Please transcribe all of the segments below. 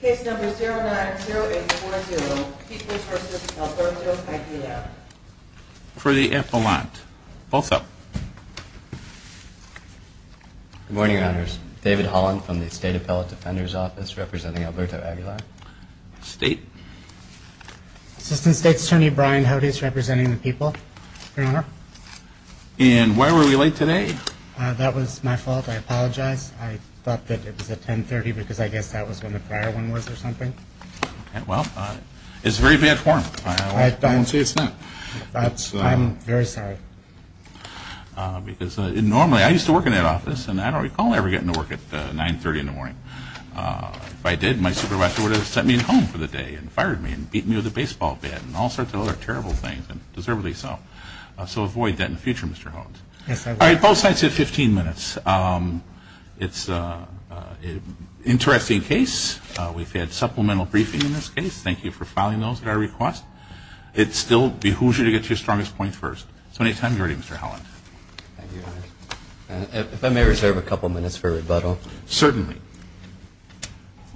Case number 090840, Peoples v. Alberto Aguilar. For the appellant. Both up. Good morning, Your Honors. David Holland from the State Appellate Defender's Office, representing Alberto Aguilar. State? Assistant State's Attorney Brian Hodes, representing the People, Your Honor. And why were we late today? That was my fault. I apologize. I thought that it was at 10.30 because I guess that was when the prior one was or something. Well, it's very bad form. I won't say it's not. I'm very sorry. Because normally, I used to work in that office, and I don't recall ever getting to work at 9.30 in the morning. If I did, my supervisor would have sent me home for the day and fired me and beat me with a baseball bat and all sorts of other terrible things, and deservedly so. So avoid that in the future, Mr. Hodes. Yes, I will. All right. Both sides have 15 minutes. It's an interesting case. We've had supplemental briefing in this case. Thank you for filing those at our request. It's still behoosal to get to your strongest point first. So anytime you're ready, Mr. Holland. Thank you, Your Honor. If I may reserve a couple minutes for rebuttal. Certainly.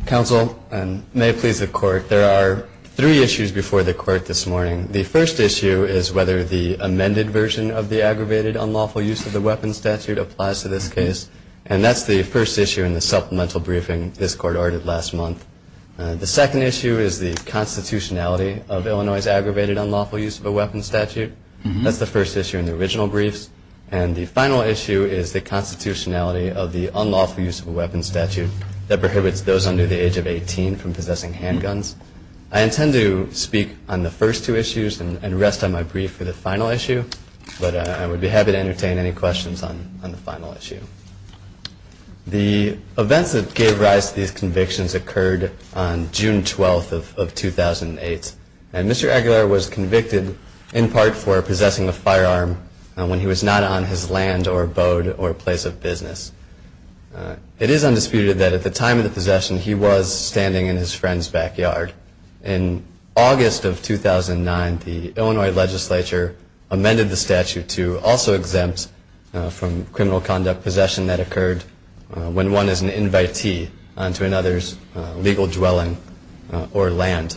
Counsel, and may it please the Court, there are three issues before the Court this morning. The first issue is whether the amended version of the aggravated unlawful use of the weapons statute applies to this case. And that's the first issue in the supplemental briefing this Court ordered last month. The second issue is the constitutionality of Illinois' aggravated unlawful use of a weapons statute. That's the first issue in the original briefs. And the final issue is the constitutionality of the unlawful use of a weapons statute that prohibits those under the age of 18 from possessing handguns. I intend to speak on the first two issues and rest on my brief for the final issue. But I would be happy to entertain any questions on the final issue. The events that gave rise to these convictions occurred on June 12th of 2008. And Mr. Aguilar was convicted in part for possessing a firearm when he was not on his land or abode or place of business. It is undisputed that at the time of the possession, he was standing in his friend's backyard. In August of 2009, the Illinois legislature amended the statute to also exempt from criminal conduct possession that occurred when one is an invitee onto another's legal dwelling or land.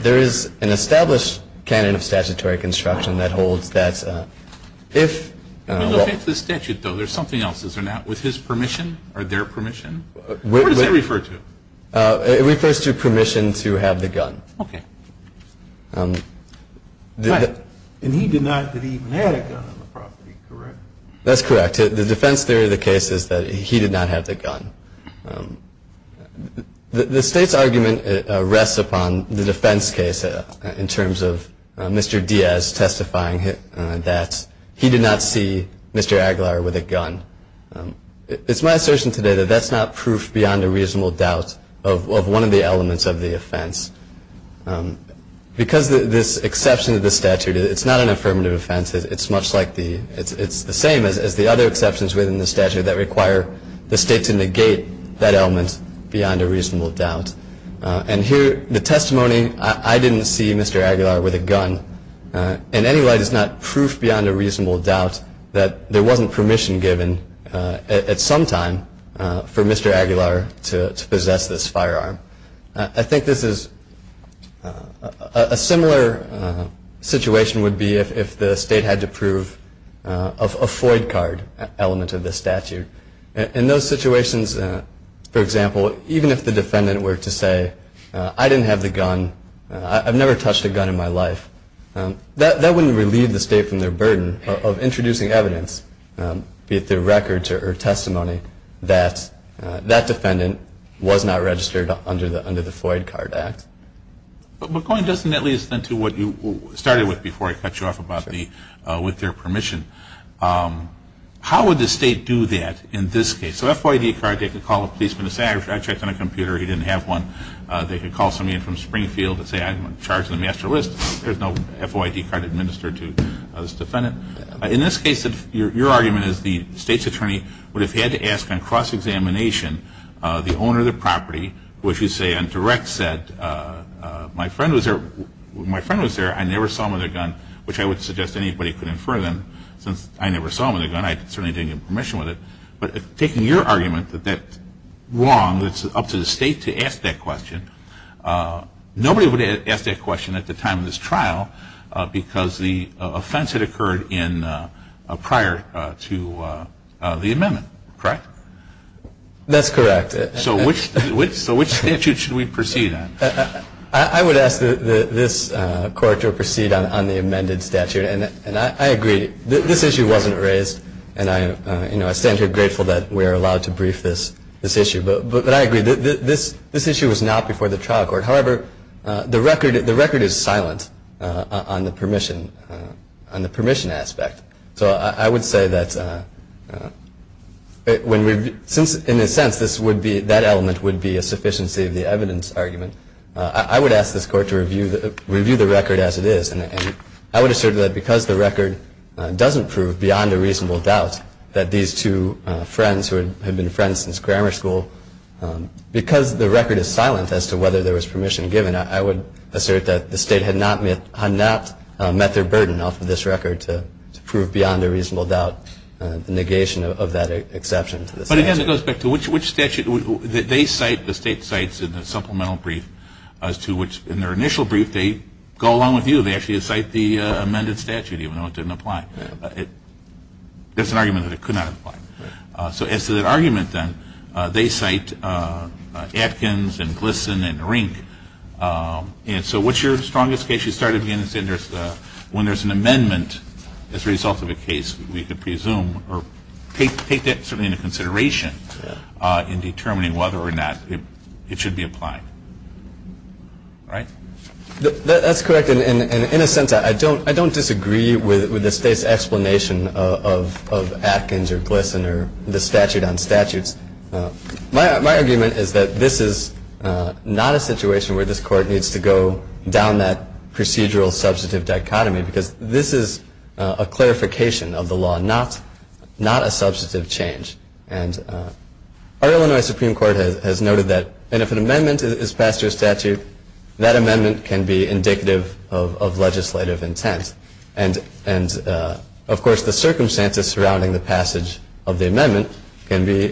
There is an established canon of statutory construction that holds that if- I'm sorry, I'm going to interrupt you. I am here to ask a question. You may have to ask it, though. There's something else. Is there not with his permission or their permission? What does it refer to? It refers to permission to have the gun. Okay. And he did not have even had a gun on the property, correct? That's correct. The defense theory of the case is that he did not have the gun. The State's argument rests upon the defense case in terms of Mr. Diaz testifying that he did not see Mr. Aguilar with a gun. It's my assertion today that that's not proof beyond a reasonable doubt of one of the elements of the offense. Because this exception to the statute, it's not an affirmative offense. It's much like the – it's the same as the other exceptions within the statute that require the State to negate that element beyond a reasonable doubt. And here, the testimony, I didn't see Mr. Aguilar with a gun. In any light, it's not proof beyond a reasonable doubt that there wasn't permission given at some time for Mr. Aguilar to possess this firearm. I think this is – a similar situation would be if the State had to prove a FOID card element of this statute. In those situations, for example, even if the defendant were to say, I didn't have the gun, I've never touched a gun in my life, that wouldn't relieve the State from their burden of introducing evidence, be it their records or testimony, that that defendant was not registered under the FOID Card Act. But going just nettily into what you started with before I cut you off about the – with their permission, how would the State do that in this case? So FOID card, they could call a policeman and say, I checked on a computer, he didn't have one. They could call somebody from Springfield and say, I'm in charge of the master list. There's no FOID card administered to this defendant. In this case, your argument is the State's attorney would have had to ask on cross-examination the owner of the property, which would say on direct set, my friend was there, I never saw him with a gun, which I would suggest anybody could infer them, since I never saw him with a gun, I certainly didn't get permission with it. But taking your argument that that's wrong, that it's up to the State to ask that question, nobody would have asked that question at the time of this trial, because the offense had occurred prior to the amendment, correct? That's correct. So which statute should we proceed on? I would ask this Court to proceed on the amended statute. And I agree, this issue wasn't raised, and I stand here grateful that we're allowed to brief this issue. But I agree, this issue was not before the trial court. However, the record is silent on the permission aspect. So I would say that since, in a sense, that element would be a sufficiency of the evidence argument, I would ask this Court to review the record as it is. And I would assert that because the record doesn't prove beyond a reasonable doubt that these two friends, who had been friends since grammar school, because the record is silent as to whether there was permission given, I would assert that the State had not met their burden off of this record to prove beyond a reasonable doubt the negation of that exception to the statute. But again, it goes back to which statute? They cite, the State cites in the supplemental brief, as to which, in their initial brief, they go along with you. They actually cite the amended statute, even though it didn't apply. That's an argument that it could not apply. So as to that argument, then, they cite Atkins and Glisson and Rink. And so what's your strongest case? You start at the end and say when there's an amendment as a result of a case, we could presume or take that certainly into consideration in determining whether or not it should be applied. Right? That's correct. And in a sense, I don't disagree with the State's explanation of Atkins or Glisson or the statute on statutes. My argument is that this is not a situation where this Court needs to go down that procedural substantive dichotomy because this is a clarification of the law, not a substantive change. And our Illinois Supreme Court has noted that if an amendment is passed to a statute, that amendment can be indicative of legislative intent. And, of course, the circumstances surrounding the passage of the amendment can be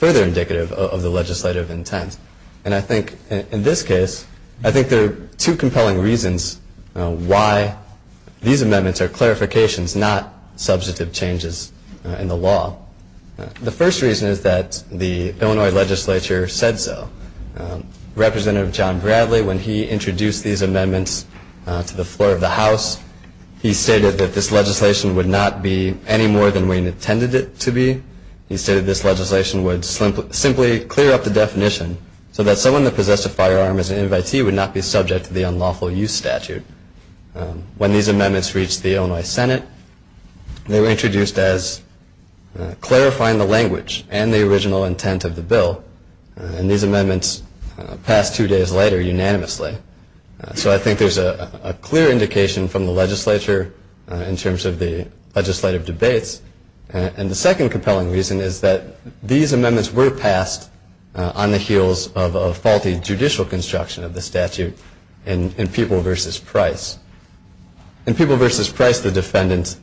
further indicative of the legislative intent. And I think in this case, I think there are two compelling reasons why these amendments are clarifications, not substantive changes in the law. The first reason is that the Illinois legislature said so. Representative John Bradley, when he introduced these amendments to the floor of the House, he stated that this legislation would not be any more than we intended it to be. He stated this legislation would simply clear up the definition so that someone that possessed a firearm as an invitee would not be subject to the unlawful use statute. When these amendments reached the Illinois Senate, they were introduced as clarifying the language and the original intent of the bill. And these amendments passed two days later unanimously. So I think there's a clear indication from the legislature in terms of the legislative debates. And the second compelling reason is that these amendments were passed on the heels of a faulty judicial construction of the statute in People v. Price. In People v. Price, the defendant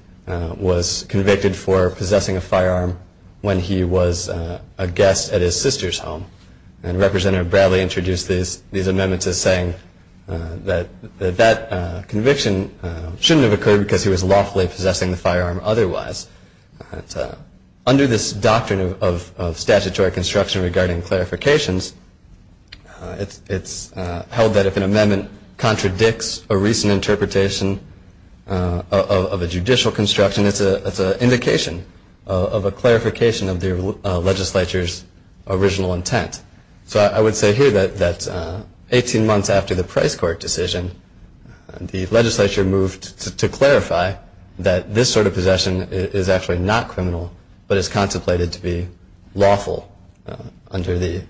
was convicted for possessing a firearm when he was a guest at his sister's home. And Representative Bradley introduced these amendments as saying that that conviction shouldn't have occurred because he was lawfully possessing the firearm otherwise. Under this doctrine of statutory construction regarding clarifications, it's held that if an amendment contradicts a recent interpretation of a judicial construction, it's an indication of a clarification of the legislature's original intent. So I would say here that 18 months after the Price court decision, the legislature moved to clarify that this sort of possession is actually not criminal but is contemplated to be lawful under the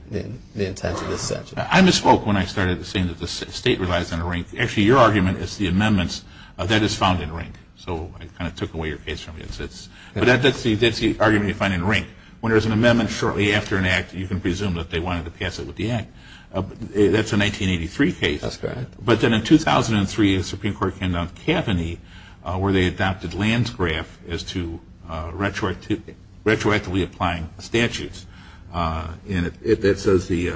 intent of this statute. I misspoke when I started saying that the state relies on a rink. Actually, your argument is the amendments that is found in a rink. So I kind of took away your case from you. But that's the argument you find in a rink. When there's an amendment shortly after an act, you can presume that they wanted to pass it with the act. That's a 1983 case. That's correct. But then in 2003, the Supreme Court came down to Kavanaugh where they adopted Landgraf as to retroactively applying statutes. And it says the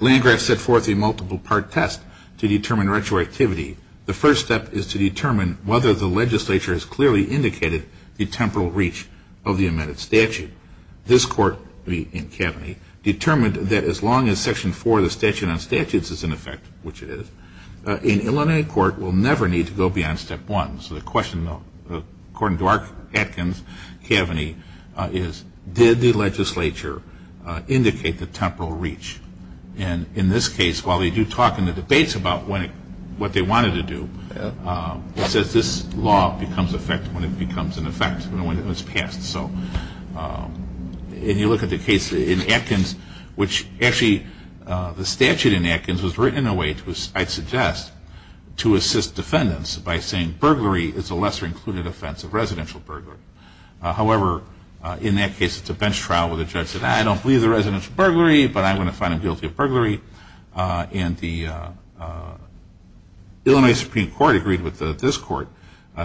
Landgraf set forth a multiple part test to determine retroactivity. The first step is to determine whether the legislature has clearly indicated the temporal reach of the amended statute. This court in Kavanaugh determined that as long as Section 4 of the Statute on Statutes is in effect, which it is, an Illinois court will never need to go beyond Step 1. So the question, according to our Kavanaugh, is did the legislature indicate the temporal reach? And in this case, while they do talk in the debates about what they wanted to do, it says this law becomes effective when it becomes in effect and when it was passed. So if you look at the case in Atkins, which actually the statute in Atkins was written in a way I'd suggest to assist defendants by saying burglary is a lesser included offense of residential burglary. However, in that case, it's a bench trial where the judge said, I don't believe the resident's burglary, but I'm going to find them guilty of burglary. And the Illinois Supreme Court agreed with this court,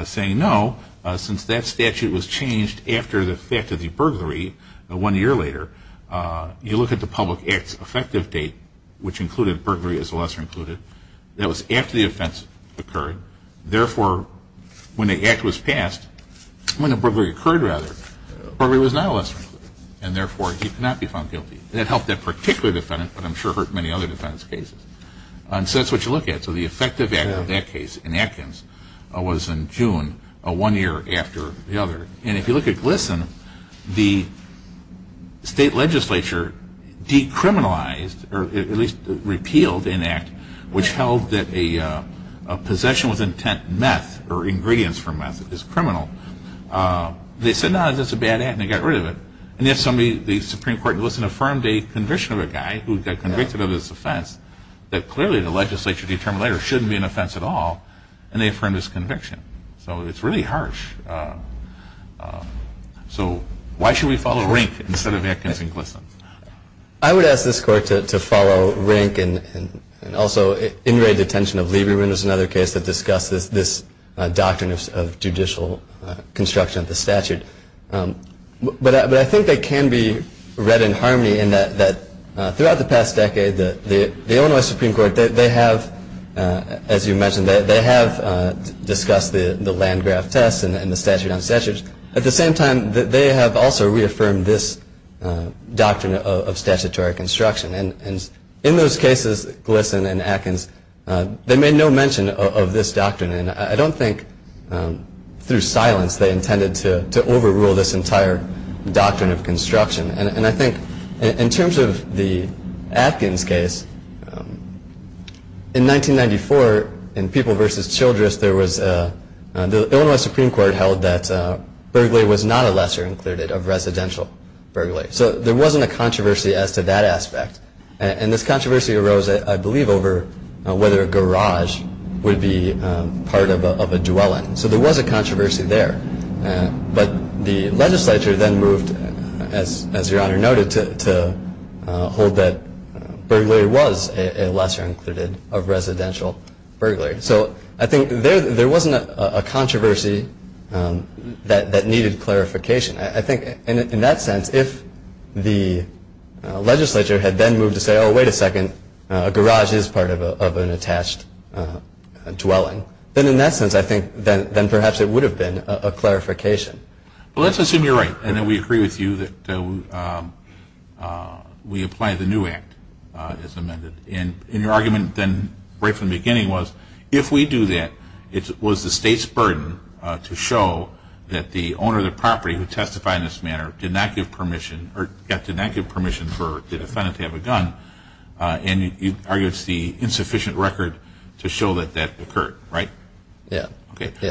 saying no, since that statute was changed after the effect of the burglary one year later, you look at the Public Act's effective date, which included burglary as a lesser included. That was after the offense occurred. Therefore, when the act was passed, when the burglary occurred, rather, burglary was not a lesser included, and therefore he could not be found guilty. That helped that particular defendant, but I'm sure it hurt many other defendants' cases. So that's what you look at. So the effective date of that case in Atkins was in June, one year after the other. And if you look at GLSEN, the state legislature decriminalized, or at least repealed, an act which held that a possession with intent meth or ingredients for meth is criminal. They said, no, that's a bad act, and they got rid of it. And yet the Supreme Court in GLSEN affirmed a conviction of a guy who got convicted of this offense that clearly the legislature determined that it shouldn't be an offense at all, and they affirmed his conviction. So it's really harsh. So why should we follow RINC instead of Atkins and GLSEN? I would ask this court to follow RINC and also inmate detention of Lieberman is another case that discusses this doctrine of judicial construction of the statute. But I think they can be read in harmony in that throughout the past decade, the Illinois Supreme Court, they have, as you mentioned, they have discussed the Landgraf test and the statute on statutes. At the same time, they have also reaffirmed this doctrine of statutory construction. And in those cases, GLSEN and Atkins, they made no mention of this doctrine. And I don't think through silence they intended to overrule this entire doctrine of construction. And I think in terms of the Atkins case, in 1994, in People v. Childress, the Illinois Supreme Court held that burglary was not a lesser included of residential burglary. So there wasn't a controversy as to that aspect. And this controversy arose, I believe, over whether a garage would be part of a dwelling. So there was a controversy there. But the legislature then moved, as Your Honor noted, to hold that burglary was a lesser included of residential burglary. So I think there wasn't a controversy that needed clarification. I think in that sense, if the legislature had then moved to say, oh, wait a second, a garage is part of an attached dwelling, then in that sense I think then perhaps it would have been a clarification. Well, let's assume you're right and that we agree with you that we apply the new act as amended. And your argument then right from the beginning was if we do that, it was the state's burden to show that the owner of the property who testified in this manner did not give permission for the defendant to have a gun. And you argue it's the insufficient record to show that that occurred, right? Yes.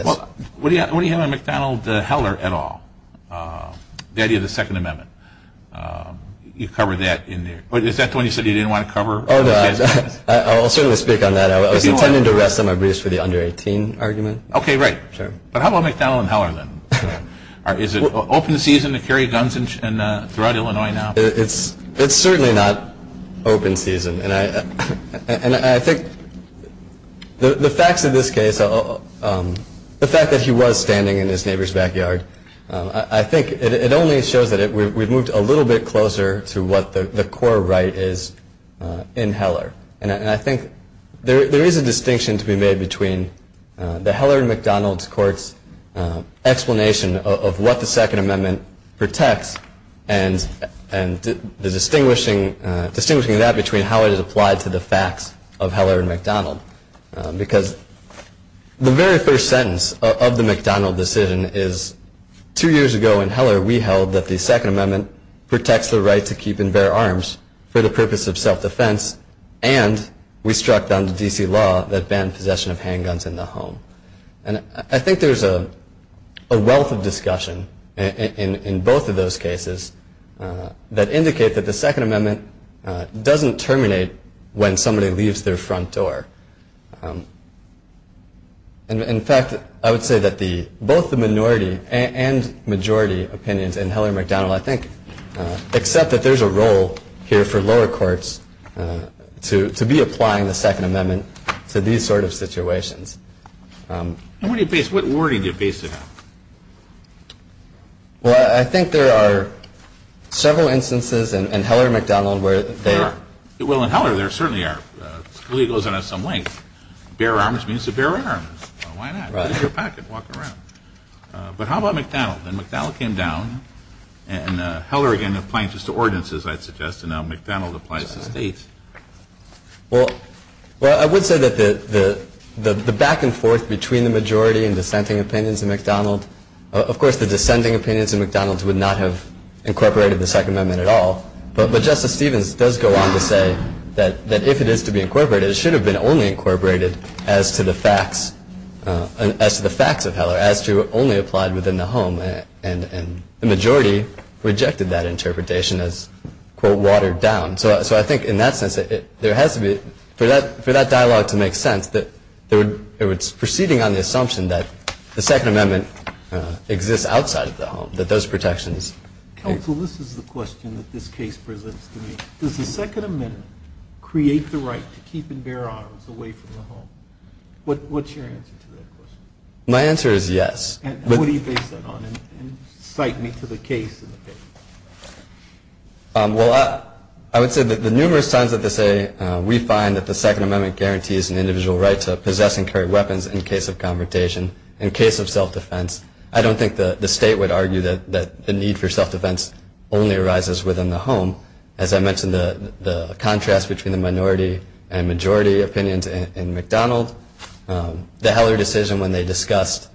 Well, what do you have on McDonald-Heller at all, the idea of the Second Amendment? You covered that in there. Is that the one you said you didn't want to cover? I'll certainly speak on that. I was intending to rest on my briefs for the under-18 argument. Okay, right. But how about McDonald-Heller then? Is it open season to carry guns throughout Illinois now? It's certainly not open season. And I think the facts of this case, the fact that he was standing in his neighbor's backyard, I think it only shows that we've moved a little bit closer to what the core right is in Heller. And I think there is a distinction to be made between the Heller-McDonald court's explanation of what the Second Amendment protects and distinguishing that between how it is applied to the facts of Heller-McDonald. Because the very first sentence of the McDonald decision is, two years ago in Heller we held that the Second Amendment protects the right to keep and bear arms for the purpose of self-defense, and we struck down the D.C. law that banned possession of handguns in the home. And I think there's a wealth of discussion in both of those cases that indicate that the Second Amendment doesn't terminate when somebody leaves their front door. In fact, I would say that both the minority and majority opinions in Heller-McDonald, I think, accept that there's a role here for lower courts to be applying the Second Amendment to these sort of situations. And where do you base it on? Well, I think there are several instances in Heller-McDonald where they are. Well, in Heller there certainly are. Scalia goes on at some length. Bear arms means to bear arms. Why not? There's your packet. Walk around. But how about McDonald? And McDonald came down, and Heller, again, applying just to ordinances, I'd suggest, and now McDonald applies to states. Well, I would say that the back and forth between the majority and dissenting opinions in McDonald, of course the dissenting opinions in McDonald would not have incorporated the Second Amendment at all, but Justice Stevens does go on to say that if it is to be incorporated, it should have been only incorporated as to the facts of Heller, as to only applied within the home. And the majority rejected that interpretation as, quote, watered down. So I think in that sense there has to be, for that dialogue to make sense, that it's proceeding on the assumption that the Second Amendment exists outside of the home, that those protections. Counsel, this is the question that this case presents to me. Does the Second Amendment create the right to keep and bear arms away from the home? What's your answer to that question? My answer is yes. And what do you base that on? And cite me to the case in the case. Well, I would say that the numerous times that they say, we find that the Second Amendment guarantees an individual right to possess and carry weapons in case of confrontation, in case of self-defense, I don't think the state would argue that the need for self-defense only arises within the home. As I mentioned, the contrast between the minority and majority opinions in McDonald, the Heller decision when they discussed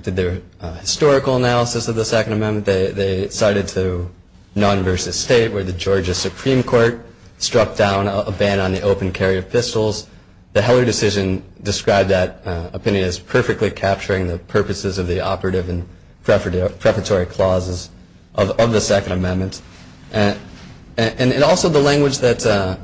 their historical analysis of the Second Amendment, they cited to non-versus state where the Georgia Supreme Court struck down a ban on the open carry of pistols. The Heller decision described that opinion as perfectly capturing the purposes of the operative and preparatory clauses of the Second Amendment. And also the language that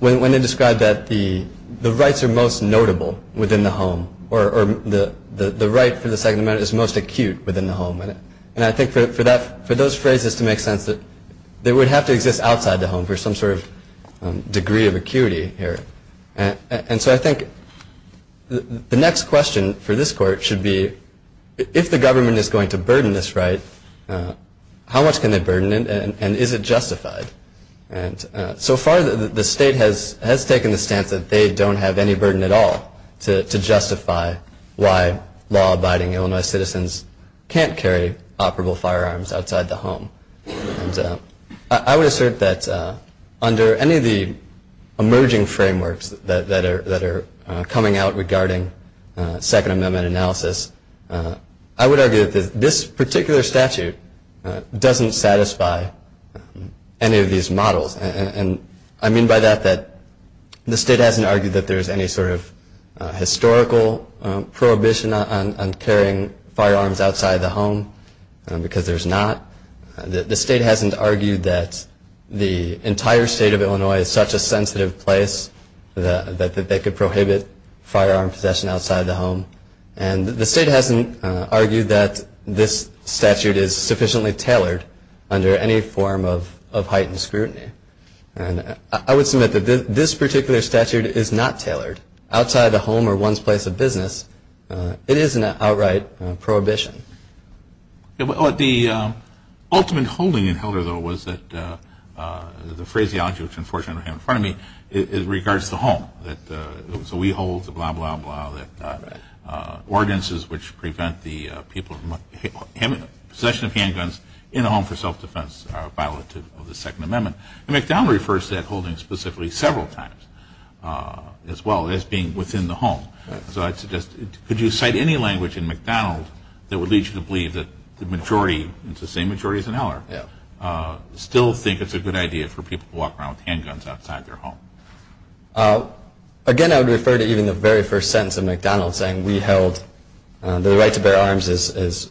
when they described that the rights are most notable within the home or the right for the Second Amendment is most acute within the home. And I think for those phrases to make sense, they would have to exist outside the home for some sort of degree of acuity here. And so I think the next question for this court should be, if the government is going to burden this right, how much can they burden it and is it justified? And so far the state has taken the stance that they don't have any burden at all to justify why law-abiding Illinois citizens can't carry operable firearms outside the home. And I would assert that under any of the emerging frameworks that are coming out regarding Second Amendment analysis, I would argue that this particular statute doesn't satisfy any of these models. And I mean by that that the state hasn't argued that there's any sort of historical prohibition on carrying firearms outside the home because there's not. The state hasn't argued that the entire state of Illinois is such a sensitive place that they could prohibit firearm possession outside the home. And the state hasn't argued that this statute is sufficiently tailored under any form of heightened scrutiny. And I would submit that this particular statute is not tailored outside the home or one's place of business. It is an outright prohibition. The ultimate holding in Helder, though, was that the phraseology which unfortunately I have in front of me regards the home. So we hold the blah, blah, blah, that ordinances which prevent the possession of handguns in a home for self-defense are a violative of the Second Amendment. And McDonald refers to that holding specifically several times as well as being within the home. Could you cite any language in McDonald that would lead you to believe that the majority, it's the same majority as in Helder, still think it's a good idea for people to walk around with handguns outside their home? Again, I would refer to even the very first sentence of McDonald saying we held the right to bear arms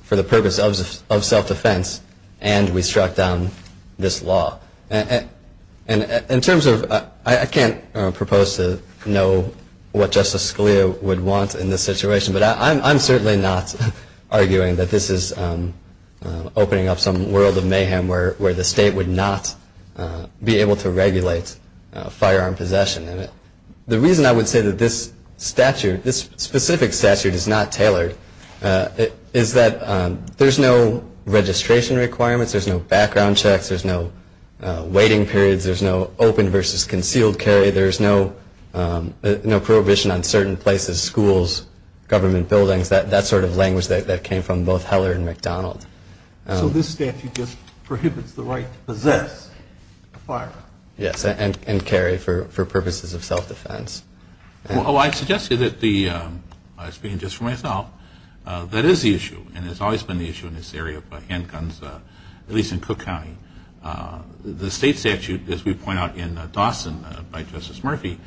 for the purpose of self-defense and we struck down this law. In terms of, I can't propose to know what Justice Scalia would want in this situation, but I'm certainly not arguing that this is opening up some world of mayhem where the state would not be able to regulate firearm possession. The reason I would say that this statute, this specific statute is not tailored is that there's no registration requirements, there's no background checks, there's no waiting periods, there's no open versus concealed carry, there's no prohibition on certain places, schools, government buildings, that sort of language that came from both Heller and McDonald. So this statute just prohibits the right to possess a firearm? Yes, and carry for purposes of self-defense. Oh, I suggest to you that the, speaking just for myself, that is the issue and has always been the issue in this area of handguns, at least in Cook County. The state statute, as we point out in Dawson by Justice Murphy,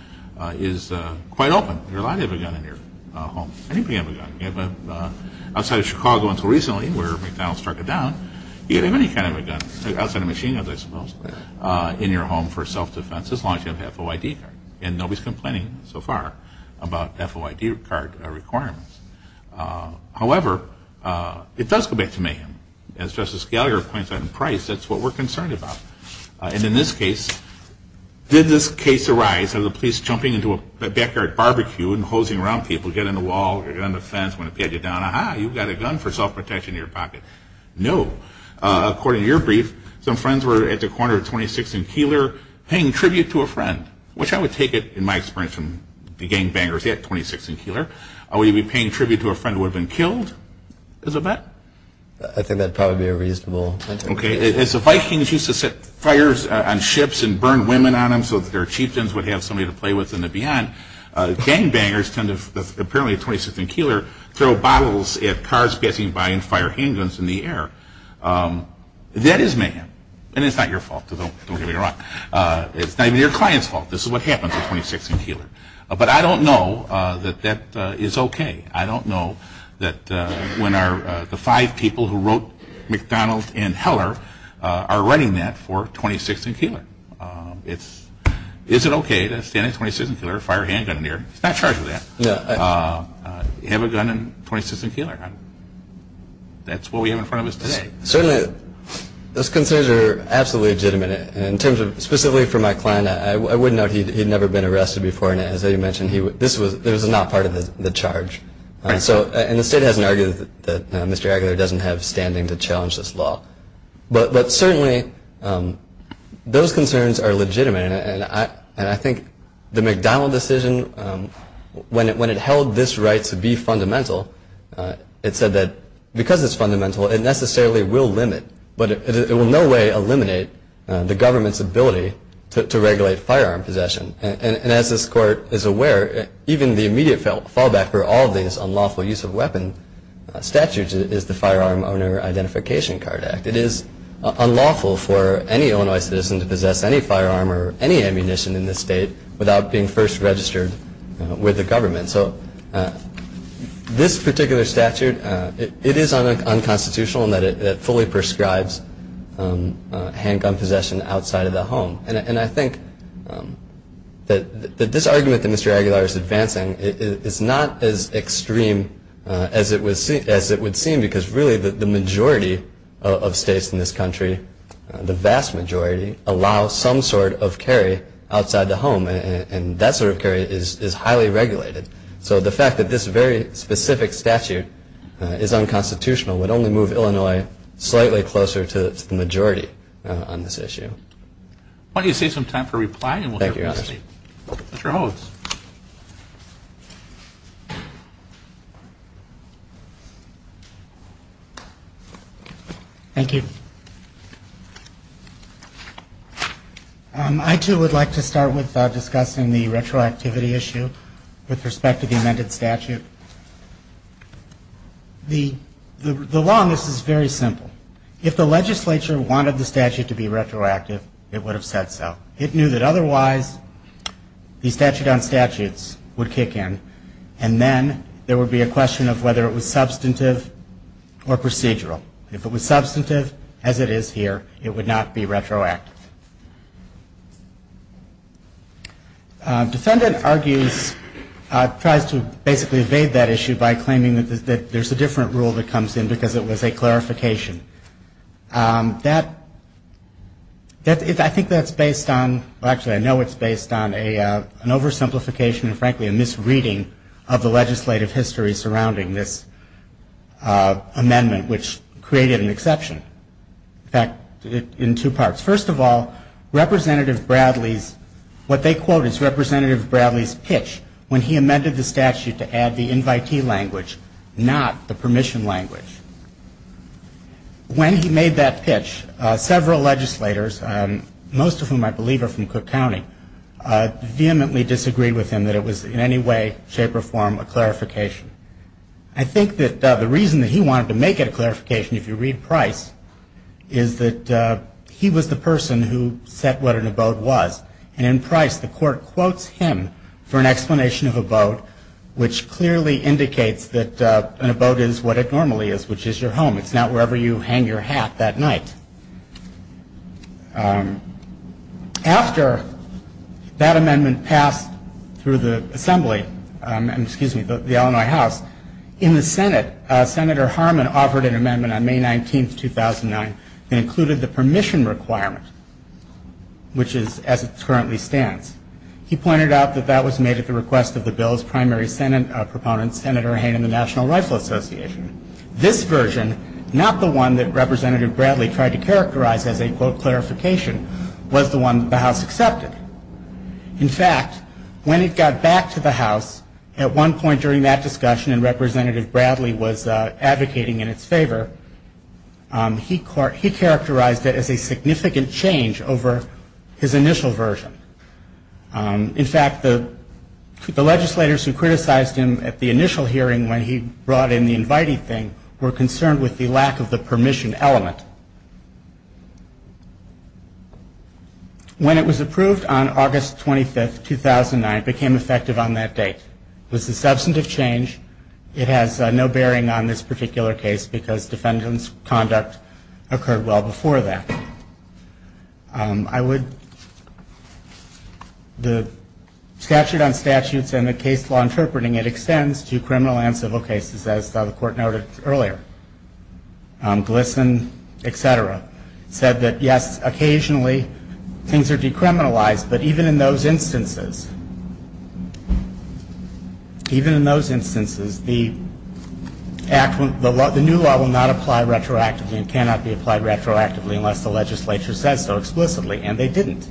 is quite open. You're allowed to have a gun in your home. Anybody can have a gun. Outside of Chicago until recently where McDonald struck it down, you can have any kind of a gun, outside of machine guns I suppose, in your home for self-defense as long as you have a FOID card. And nobody's complaining so far about FOID card requirements. However, it does go back to mayhem. As Justice Gallagher points out in Price, that's what we're concerned about. And in this case, did this case arise of the police jumping into a backyard barbecue and hosing around people, get on the wall, get on the fence, want to pat you down, ah-ha, you've got a gun for self-protection in your pocket. No. According to your brief, some friends were at the corner of 26th and Keeler paying tribute to a friend, which I would take it, in my experience, from the gangbangers at 26th and Keeler, where you'd be paying tribute to a friend who had been killed. Is it that? I think that would probably be a reasonable interpretation. Okay. As the Vikings used to set fires on ships and burn women on them so that their chieftains would have somebody to play with in the beyond, gangbangers tend to, apparently at 26th and Keeler, throw bottles at cars passing by and fire handguns in the air. That is mayhem. And it's not your fault. Don't get me wrong. It's not even your client's fault. This is what happened at 26th and Keeler. But I don't know that that is okay. I don't know that when the five people who wrote McDonald and Heller are writing that for 26th and Keeler. Is it okay to stand at 26th and Keeler and fire a handgun in the air? He's not charged with that. Have a gun at 26th and Keeler. That's what we have in front of us today. Certainly, those concerns are absolutely legitimate. In terms of specifically for my client, I would note he had never been arrested before. And as you mentioned, this was not part of the charge. And the state hasn't argued that Mr. Aguilar doesn't have standing to challenge this law. But certainly, those concerns are legitimate. And I think the McDonald decision, when it held this right to be fundamental, it said that because it's fundamental, it necessarily will limit. But it will in no way eliminate the government's ability to regulate firearm possession. And as this court is aware, even the immediate fallback for all of these unlawful use of weapon statutes is the Firearm Owner Identification Card Act. It is unlawful for any Illinois citizen to possess any firearm or any ammunition in this state without being first registered with the government. So this particular statute, it is unconstitutional in that it fully prescribes handgun possession outside of the home. And I think that this argument that Mr. Aguilar is advancing is not as extreme as it would seem because really the majority of states in this country, the vast majority, allow some sort of carry outside the home. And that sort of carry is highly regulated. So the fact that this very specific statute is unconstitutional would only move Illinois slightly closer to the majority on this issue. Why don't you save some time for reply and we'll hear from the state. Thank you, Your Honor. Mr. Hodes. Thank you. I, too, would like to start with discussing the retroactivity issue with respect to the amended statute. The law on this is very simple. If the legislature wanted the statute to be retroactive, it would have said so. It knew that otherwise the statute on statutes would kick in and then there would be a question of whether it was substantive or procedural. If it was substantive, as it is here, it would not be retroactive. Defendant argues, tries to basically evade that issue by claiming that there's a different rule that comes in because it was a clarification. That, I think that's based on, actually I know it's based on an oversimplification and frankly a misreading of the legislative history surrounding this amendment, which created an exception. In fact, in two parts. First of all, Representative Bradley's, what they quote is Representative Bradley's pitch when he amended the statute to add the invitee language, not the permission language. When he made that pitch, several legislators, most of whom I believe are from Cook County, vehemently disagreed with him that it was in any way, shape, or form a clarification. I think that the reason that he wanted to make it a clarification, if you read Price, is that he was the person who set what an abode was. And in Price, the court quotes him for an explanation of abode, which clearly indicates that an abode is what it normally is, which is your home. It's not wherever you hang your hat that night. After that amendment passed through the Assembly, excuse me, the Illinois House, in the Senate, Senator Harmon offered an amendment on May 19th, 2009 that included the permission requirement, which is as it currently stands. He pointed out that that was made at the request of the bill's primary Senate proponent, Senator Hayne of the National Rifle Association. This version, not the one that Representative Bradley tried to characterize as a, quote, clarification, was the one that the House accepted. In fact, when it got back to the House, at one point during that discussion and Representative Bradley was advocating in its favor, he characterized it as a significant change over his initial version. In fact, the legislators who criticized him at the initial hearing when he brought in the inviting thing were concerned with the lack of the permission element. When it was approved on August 25th, 2009, it became effective on that date. It was a substantive change. It has no bearing on this particular case because defendant's conduct occurred well before that. I would, the statute on statutes and the case law interpreting it extends to criminal and civil cases, as the Court noted earlier. Glisson, et cetera, said that, yes, occasionally things are decriminalized, but even in those instances, even in those instances, the new law will not apply retroactively and cannot be applied retroactively unless the legislature says so explicitly. And they didn't.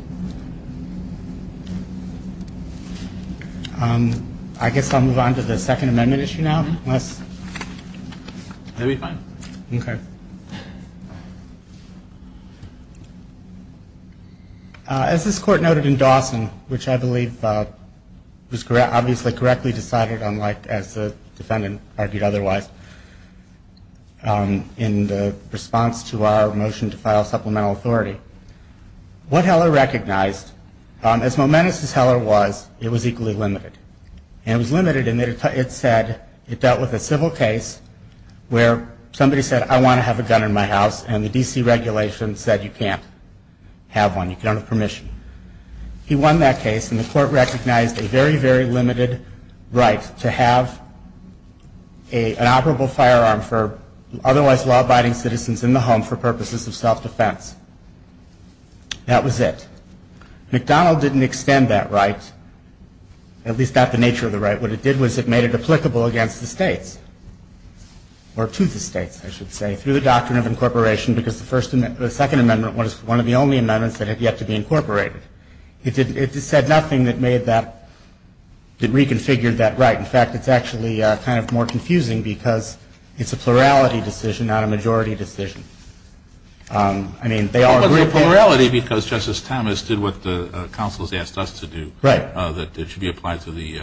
I guess I'll move on to the Second Amendment issue now. Okay. As this Court noted in Dawson, which I believe was obviously correctly decided, unlike as the defendant argued otherwise, in the response to our motion to file supplemental authority, what Heller recognized, as momentous as Heller was, it was equally limited. And it was limited in that it said it dealt with a civil case where somebody said, I want to have a gun in my house, and the D.C. regulation said you can't have one. You can't have permission. He won that case, and the Court recognized a very, very limited right to have an operable firearm for otherwise law-abiding citizens in the home for purposes of self-defense. That was it. McDonald didn't extend that right, at least not the nature of the right. What it did was it made it applicable against the states, or to the states, I should say, through the doctrine of incorporation because the Second Amendment was one of the only amendments that had yet to be incorporated. It said nothing that made that, that reconfigured that right. In fact, it's actually kind of more confusing because it's a plurality decision, not a majority decision. I mean, they all agree. It was a plurality because Justice Thomas did what the counsels asked us to do. Right. That it should be applied to the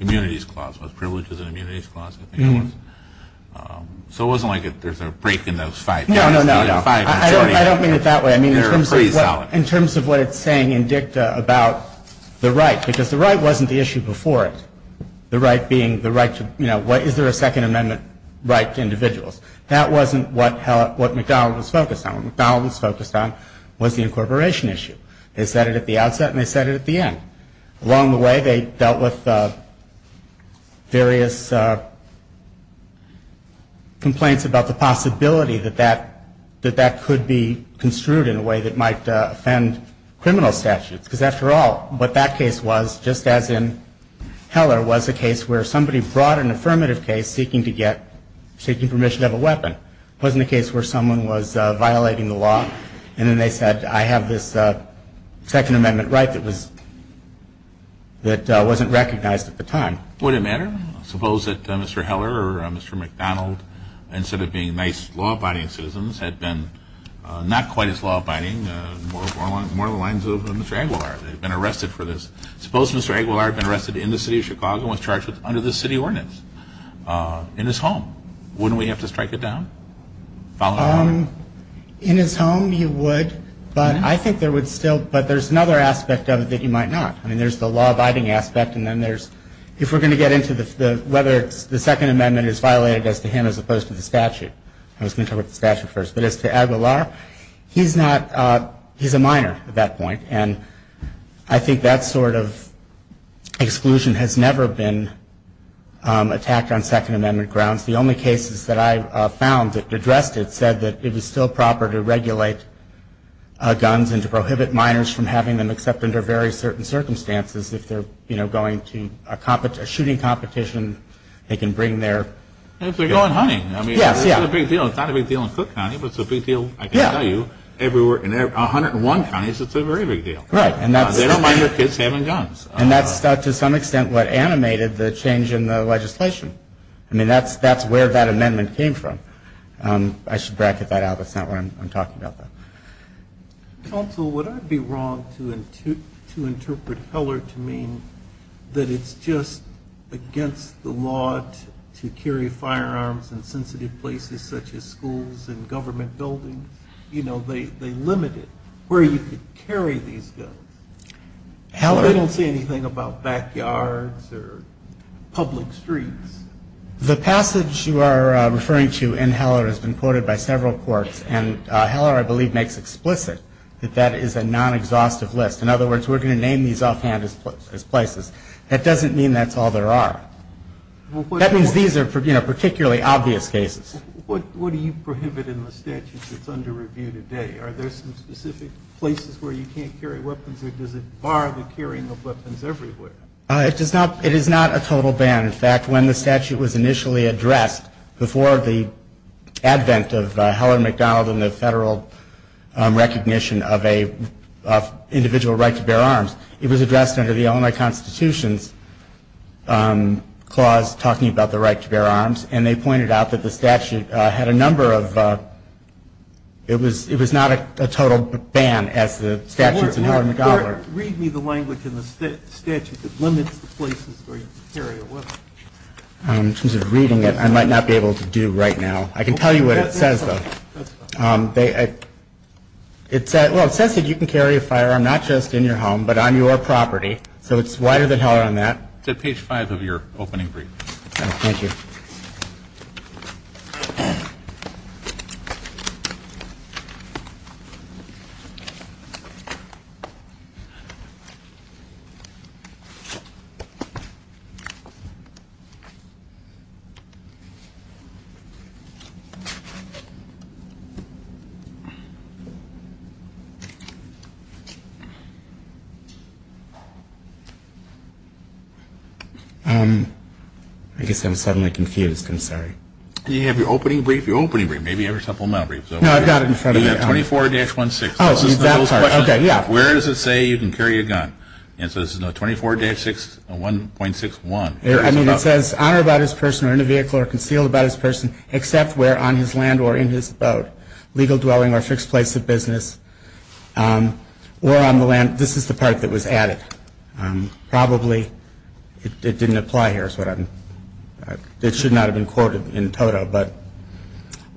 immunities clause, privileges and immunities clause, I think it was. So it wasn't like there's a break in those five. No, no, no. I don't mean it that way. In terms of what it's saying in dicta about the right, because the right wasn't the issue before it. The right being the right to, you know, is there a Second Amendment right to individuals? That wasn't what McDonald was focused on. What McDonald was focused on was the incorporation issue. They said it at the outset and they said it at the end. Along the way, they dealt with various complaints about the possibility that that could be construed in a way that might offend criminal statutes. Because, after all, what that case was, just as in Heller, was a case where somebody brought an affirmative case seeking to get, seeking permission to have a weapon. It wasn't a case where someone was violating the law. And then they said, I have this Second Amendment right that wasn't recognized at the time. Would it matter? Suppose that Mr. Heller or Mr. McDonald, instead of being nice law-abiding citizens, had been not quite as law-abiding, more along the lines of Mr. Aguilar. They'd been arrested for this. Suppose Mr. Aguilar had been arrested in the city of Chicago and was charged under the city ordinance in his home. Wouldn't we have to strike it down? In his home, you would. But I think there would still, but there's another aspect of it that you might not. I mean, there's the law-abiding aspect and then there's, if we're going to get into the, whether the Second Amendment is violated as to him as opposed to the statute. I was going to talk about the statute first. But as to Aguilar, he's not, he's a minor at that point. And I think that sort of exclusion has never been attacked on Second Amendment grounds. The only cases that I found that addressed it said that it was still proper to regulate guns and to prohibit minors from having them except under very certain circumstances. If they're, you know, going to a shooting competition, they can bring their. If they're going hunting. Yes, yeah. I mean, it's a big deal. It's not a big deal in Cook County, but it's a big deal, I can tell you, everywhere. In 101 counties, it's a very big deal. Right, and that's. They don't mind their kids having guns. And that's to some extent what animated the change in the legislation. I mean, that's where that amendment came from. I should bracket that out. That's not why I'm talking about that. Counsel, would I be wrong to interpret Heller to mean that it's just against the law to carry firearms in sensitive places such as schools and government buildings? You know, they limit it, where you could carry these guns. They don't say anything about backyards or public streets. The passage you are referring to in Heller has been quoted by several courts, and Heller, I believe, makes explicit that that is a non-exhaustive list. In other words, we're going to name these offhand as places. That doesn't mean that's all there are. That means these are, you know, particularly obvious cases. What do you prohibit in the statute that's under review today? Are there some specific places where you can't carry weapons, or does it bar the carrying of weapons everywhere? It is not a total ban. In fact, when the statute was initially addressed before the advent of Heller MacDonald and the federal recognition of individual right to bear arms, it was addressed under the Illinois Constitution's clause talking about the right to bear arms, and they pointed out that the statute had a number of ‑‑ it was not a total ban as the statutes in Heller MacDonald. Read me the language in the statute that limits the places where you can carry a weapon. In terms of reading it, I might not be able to do right now. I can tell you what it says, though. Well, it says that you can carry a firearm not just in your home but on your property, so it's wider than Heller on that. It's at page 5 of your opening brief. Thank you. I guess I'm suddenly confused. I'm sorry. Do you have your opening brief? Your opening brief. Maybe you have your supplemental brief. No, I've got it in front of me. You've got 24-16. Oh, that part. Okay, yeah. Where does it say you can carry a gun? It says 24-1.61. I mean, it says on or about his person or in a vehicle or concealed about his person except where on his land or in his boat, legal dwelling or fixed place of business, or on the land. This is the part that was added. Probably it didn't apply here. It should not have been quoted in total.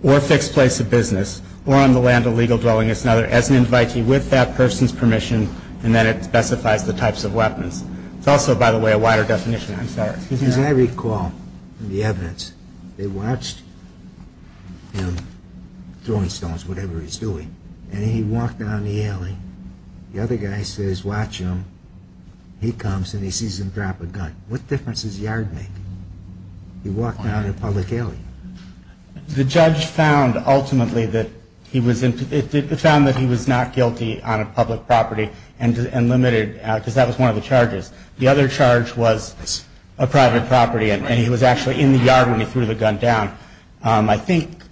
Or fixed place of business or on the land of legal dwelling as an invitee with that person's permission and then it specifies the types of weapons. It's also, by the way, a wider definition. I'm sorry. As I recall the evidence, they watched him throwing stones, whatever he's doing, and he walked down the alley. The other guy says watch him. He comes and he sees him drop a gun. What difference does the yard make? He walked down a public alley. The judge found ultimately that he was not guilty on a public property and limited because that was one of the charges. The other charge was a private property and he was actually in the yard when he threw the gun down. I think,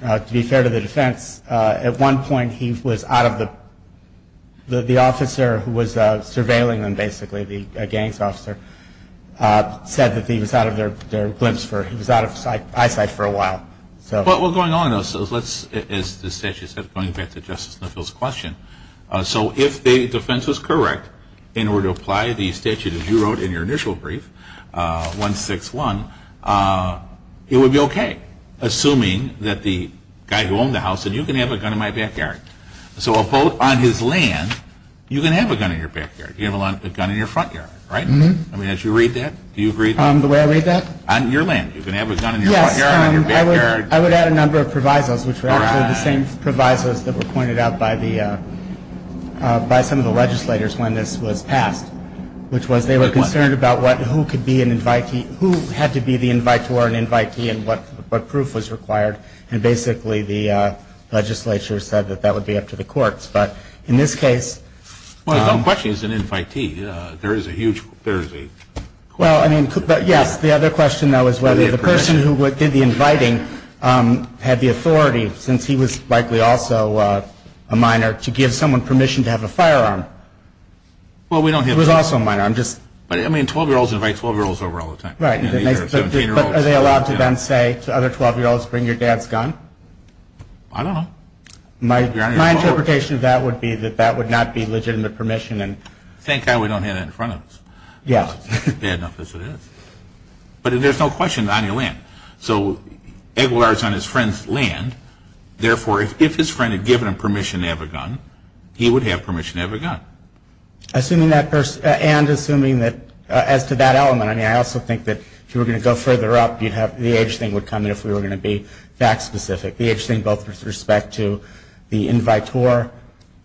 to be fair to the defense, at one point he was out of the officer who was surveilling him, basically, the gangs officer, said that he was out of their glimpse. He was out of eyesight for a while. What's going on is, as the statute said, going back to Justice Little's question, so if the defense was correct in order to apply the statute, as you wrote in your initial brief, 161, it would be okay, assuming that the guy who owned the house said, you can have a gun in my backyard. So a vote on his land, you can have a gun in your backyard. You have a gun in your front yard, right? As you read that, do you agree? The way I read that? On your land, you can have a gun in your front yard or your backyard. I would add a number of provisos, which were actually the same provisos that were pointed out by some of the legislators when this was passed, which was they were concerned about who could be an invitee, who had to be the invitee and what proof was required, and basically the legislature said that that would be up to the courts. But in this case – Well, the question is an invitee. There is a huge – there is a – Well, I mean, yes, the other question, though, is whether the person who did the inviting had the authority, since he was likely also a minor, to give someone permission to have a firearm. Well, we don't have – He was also a minor. I'm just – But, I mean, 12-year-olds invite 12-year-olds over all the time. Right. But are they allowed to then say to other 12-year-olds, bring your dad's gun? I don't know. My interpretation of that would be that that would not be legitimate permission. Thank God we don't have that in front of us. Yeah. It's bad enough as it is. But there's no question on your land. So Aguilar is on his friend's land. Therefore, if his friend had given him permission to have a gun, he would have permission to have a gun. Assuming that person – and assuming that – as to that element, I mean, I also think that if you were going to go further up, you'd have – the age thing would come in if we were going to be fact-specific, the age thing both with respect to the invitor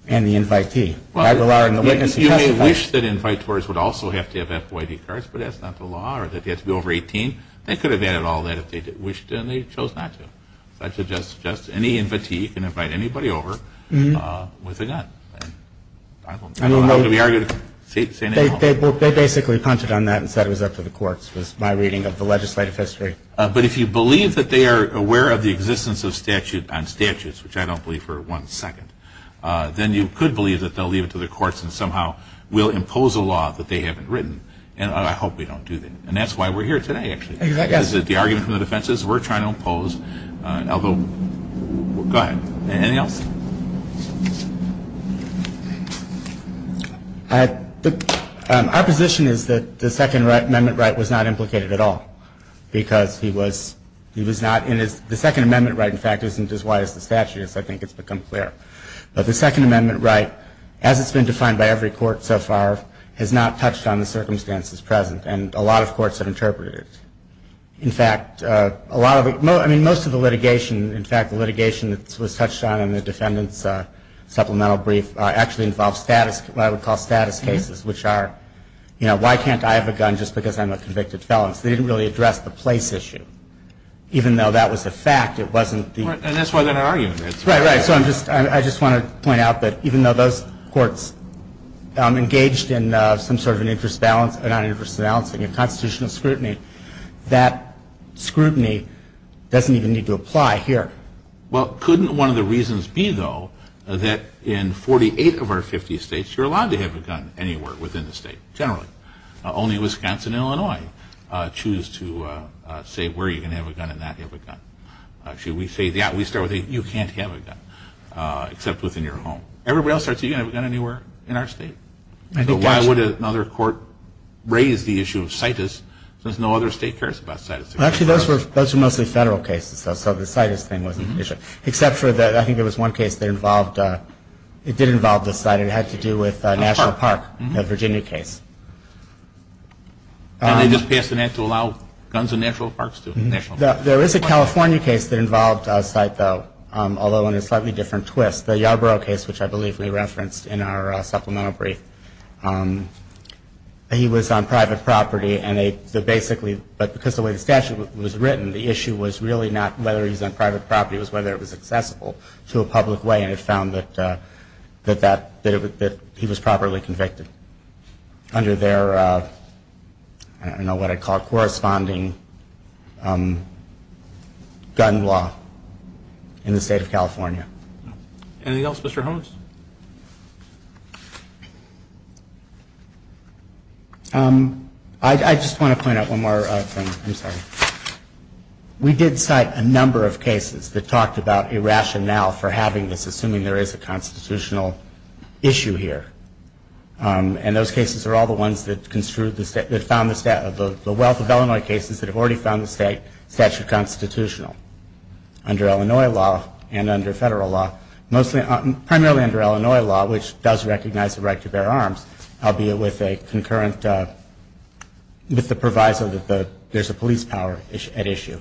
and the invitee. Aguilar and the witness – You may wish that invitors would also have to have FYD cards, but that's not the law, or that they have to be over 18. They could have added all that if they wished and they chose not to. So I suggest any invitee can invite anybody over with a gun. I don't know how to be argumentative. They basically punched it on that and said it was up to the courts, was my reading of the legislative history. But if you believe that they are aware of the existence of statute on statutes, which I don't believe for one second, then you could believe that they'll leave it to the courts and somehow will impose a law that they haven't written. And I hope we don't do that. And that's why we're here today, actually. Because the argument from the defense is we're trying to impose – I'll go – go ahead. Anything else? Our position is that the Second Amendment right was not implicated at all because he was not in his – the Second Amendment right, in fact, isn't as wide as the statute is. I think it's become clear. But the Second Amendment right, as it's been defined by every court so far, has not touched on the circumstances present. And a lot of courts have interpreted it. In fact, a lot of – I mean, most of the litigation – in fact, the litigation that was touched on in the defendant's supplemental brief actually involves status – what I would call status cases, which are, you know, why can't I have a gun just because I'm a convicted felon? So they didn't really address the place issue. Even though that was a fact, it wasn't the – And that's why they're arguing it. Right, right. So I'm just – I just want to point out that even though those courts engaged in some sort of an interest balance or non-interest balance in your constitutional scrutiny, that scrutiny doesn't even need to apply here. Well, couldn't one of the reasons be, though, that in 48 of our 50 states, you're allowed to have a gun anywhere within the state, generally? Only Wisconsin and Illinois choose to say where you can have a gun and not have a gun. Actually, we say – yeah, we start with you can't have a gun except within your home. Everybody else starts with you can't have a gun anywhere in our state. So why would another court raise the issue of CITES since no other state cares about CITES? Actually, those were mostly federal cases, though, so the CITES thing wasn't an issue, except for the – I think there was one case that involved – it did involve the site. It had to do with National Park, the Virginia case. And they just passed an act to allow guns in national parks to – national parks. There is a California case that involved a site, though, although in a slightly different twist. The Yarborough case, which I believe we referenced in our supplemental brief. He was on private property, and they basically – but because the way the statute was written, the issue was really not whether he was on private property. It was whether it was accessible to a public way, and it found that he was properly convicted under their – I don't know what I'd call it – Anything else, Mr. Holmes? I just want to point out one more thing. I'm sorry. We did cite a number of cases that talked about a rationale for having this, assuming there is a constitutional issue here. And those cases are all the ones that construed the – that found the – the wealth of Illinois cases that have already found the statute constitutional. Under Illinois law and under federal law, mostly – primarily under Illinois law, which does recognize the right to bear arms, albeit with a concurrent – with the proviso that there's a police power at issue.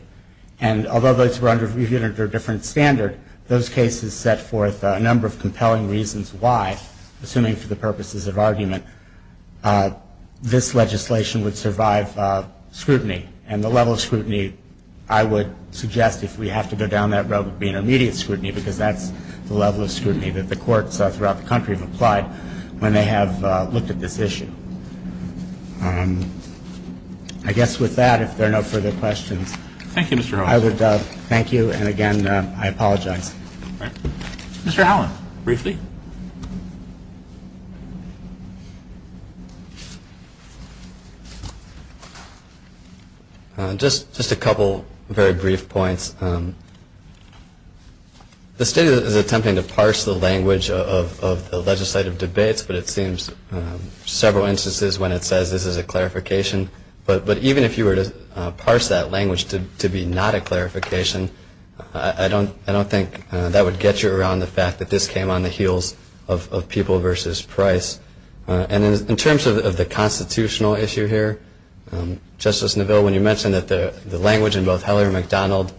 And although those were under a different standard, those cases set forth a number of compelling reasons why, assuming for the purposes of argument, this legislation would survive scrutiny. And the level of scrutiny, I would suggest, if we have to go down that road would be an immediate scrutiny, because that's the level of scrutiny that the courts throughout the country have applied when they have looked at this issue. I guess with that, if there are no further questions. Thank you, Mr. Holland. I would thank you. And, again, I apologize. Mr. Holland, briefly. Just a couple very brief points. The state is attempting to parse the language of the legislative debates, but it seems several instances when it says this is a clarification. But even if you were to parse that language to be not a clarification, I don't think that would get you around the fact that this came on the heels of people versus price. And in terms of the constitutional issue here, Justice Neville, when you mentioned that the language in both Heller and McDonald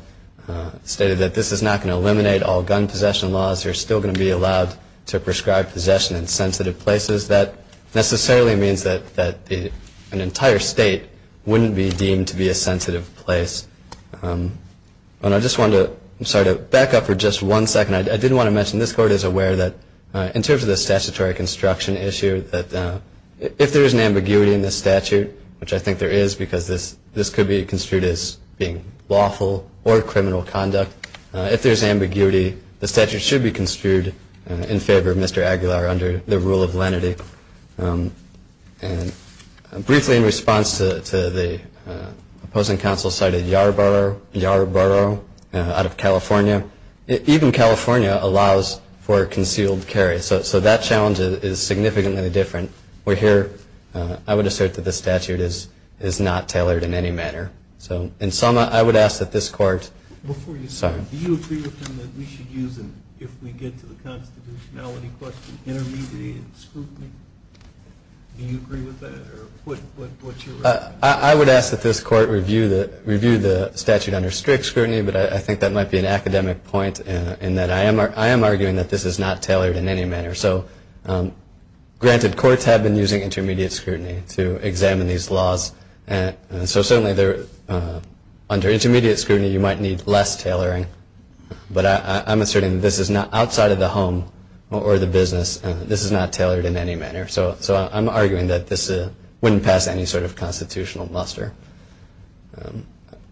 stated that this is not going to eliminate all gun possession laws, you're still going to be allowed to prescribe possession in sensitive places, that necessarily means that an entire state wouldn't be deemed to be a sensitive place. And I just wanted to back up for just one second. I did want to mention this Court is aware that in terms of the statutory construction issue, if there is an ambiguity in this statute, which I think there is because this could be construed as being lawful or criminal conduct, if there's ambiguity, the statute should be construed in favor of Mr. Aguilar under the rule of lenity. And briefly in response to the opposing counsel's side of Yarborough out of California, even California allows for concealed carry. So that challenge is significantly different. We're here, I would assert that this statute is not tailored in any manner. So in sum, I would ask that this Court, sorry. Do you agree with him that we should use, if we get to the constitutionality question, intermediate scrutiny? Do you agree with that? I would ask that this Court review the statute under strict scrutiny, but I think that might be an academic point in that I am arguing that this is not tailored in any manner. So granted, courts have been using intermediate scrutiny to examine these laws. So certainly under intermediate scrutiny, you might need less tailoring. But I'm asserting that this is not, outside of the home or the business, this is not tailored in any manner. So I'm arguing that this wouldn't pass any sort of constitutional muster.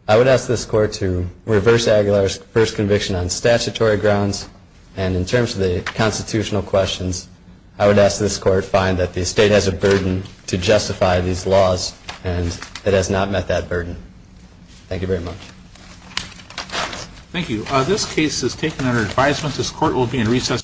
I would ask this Court to reverse Aguilar's first conviction on statutory grounds. And in terms of the constitutional questions, I would ask this Court find that the state has a burden to justify these laws, and it has not met that burden. Thank you very much. Thank you. This case is taken under advisement. This Court will be in recess.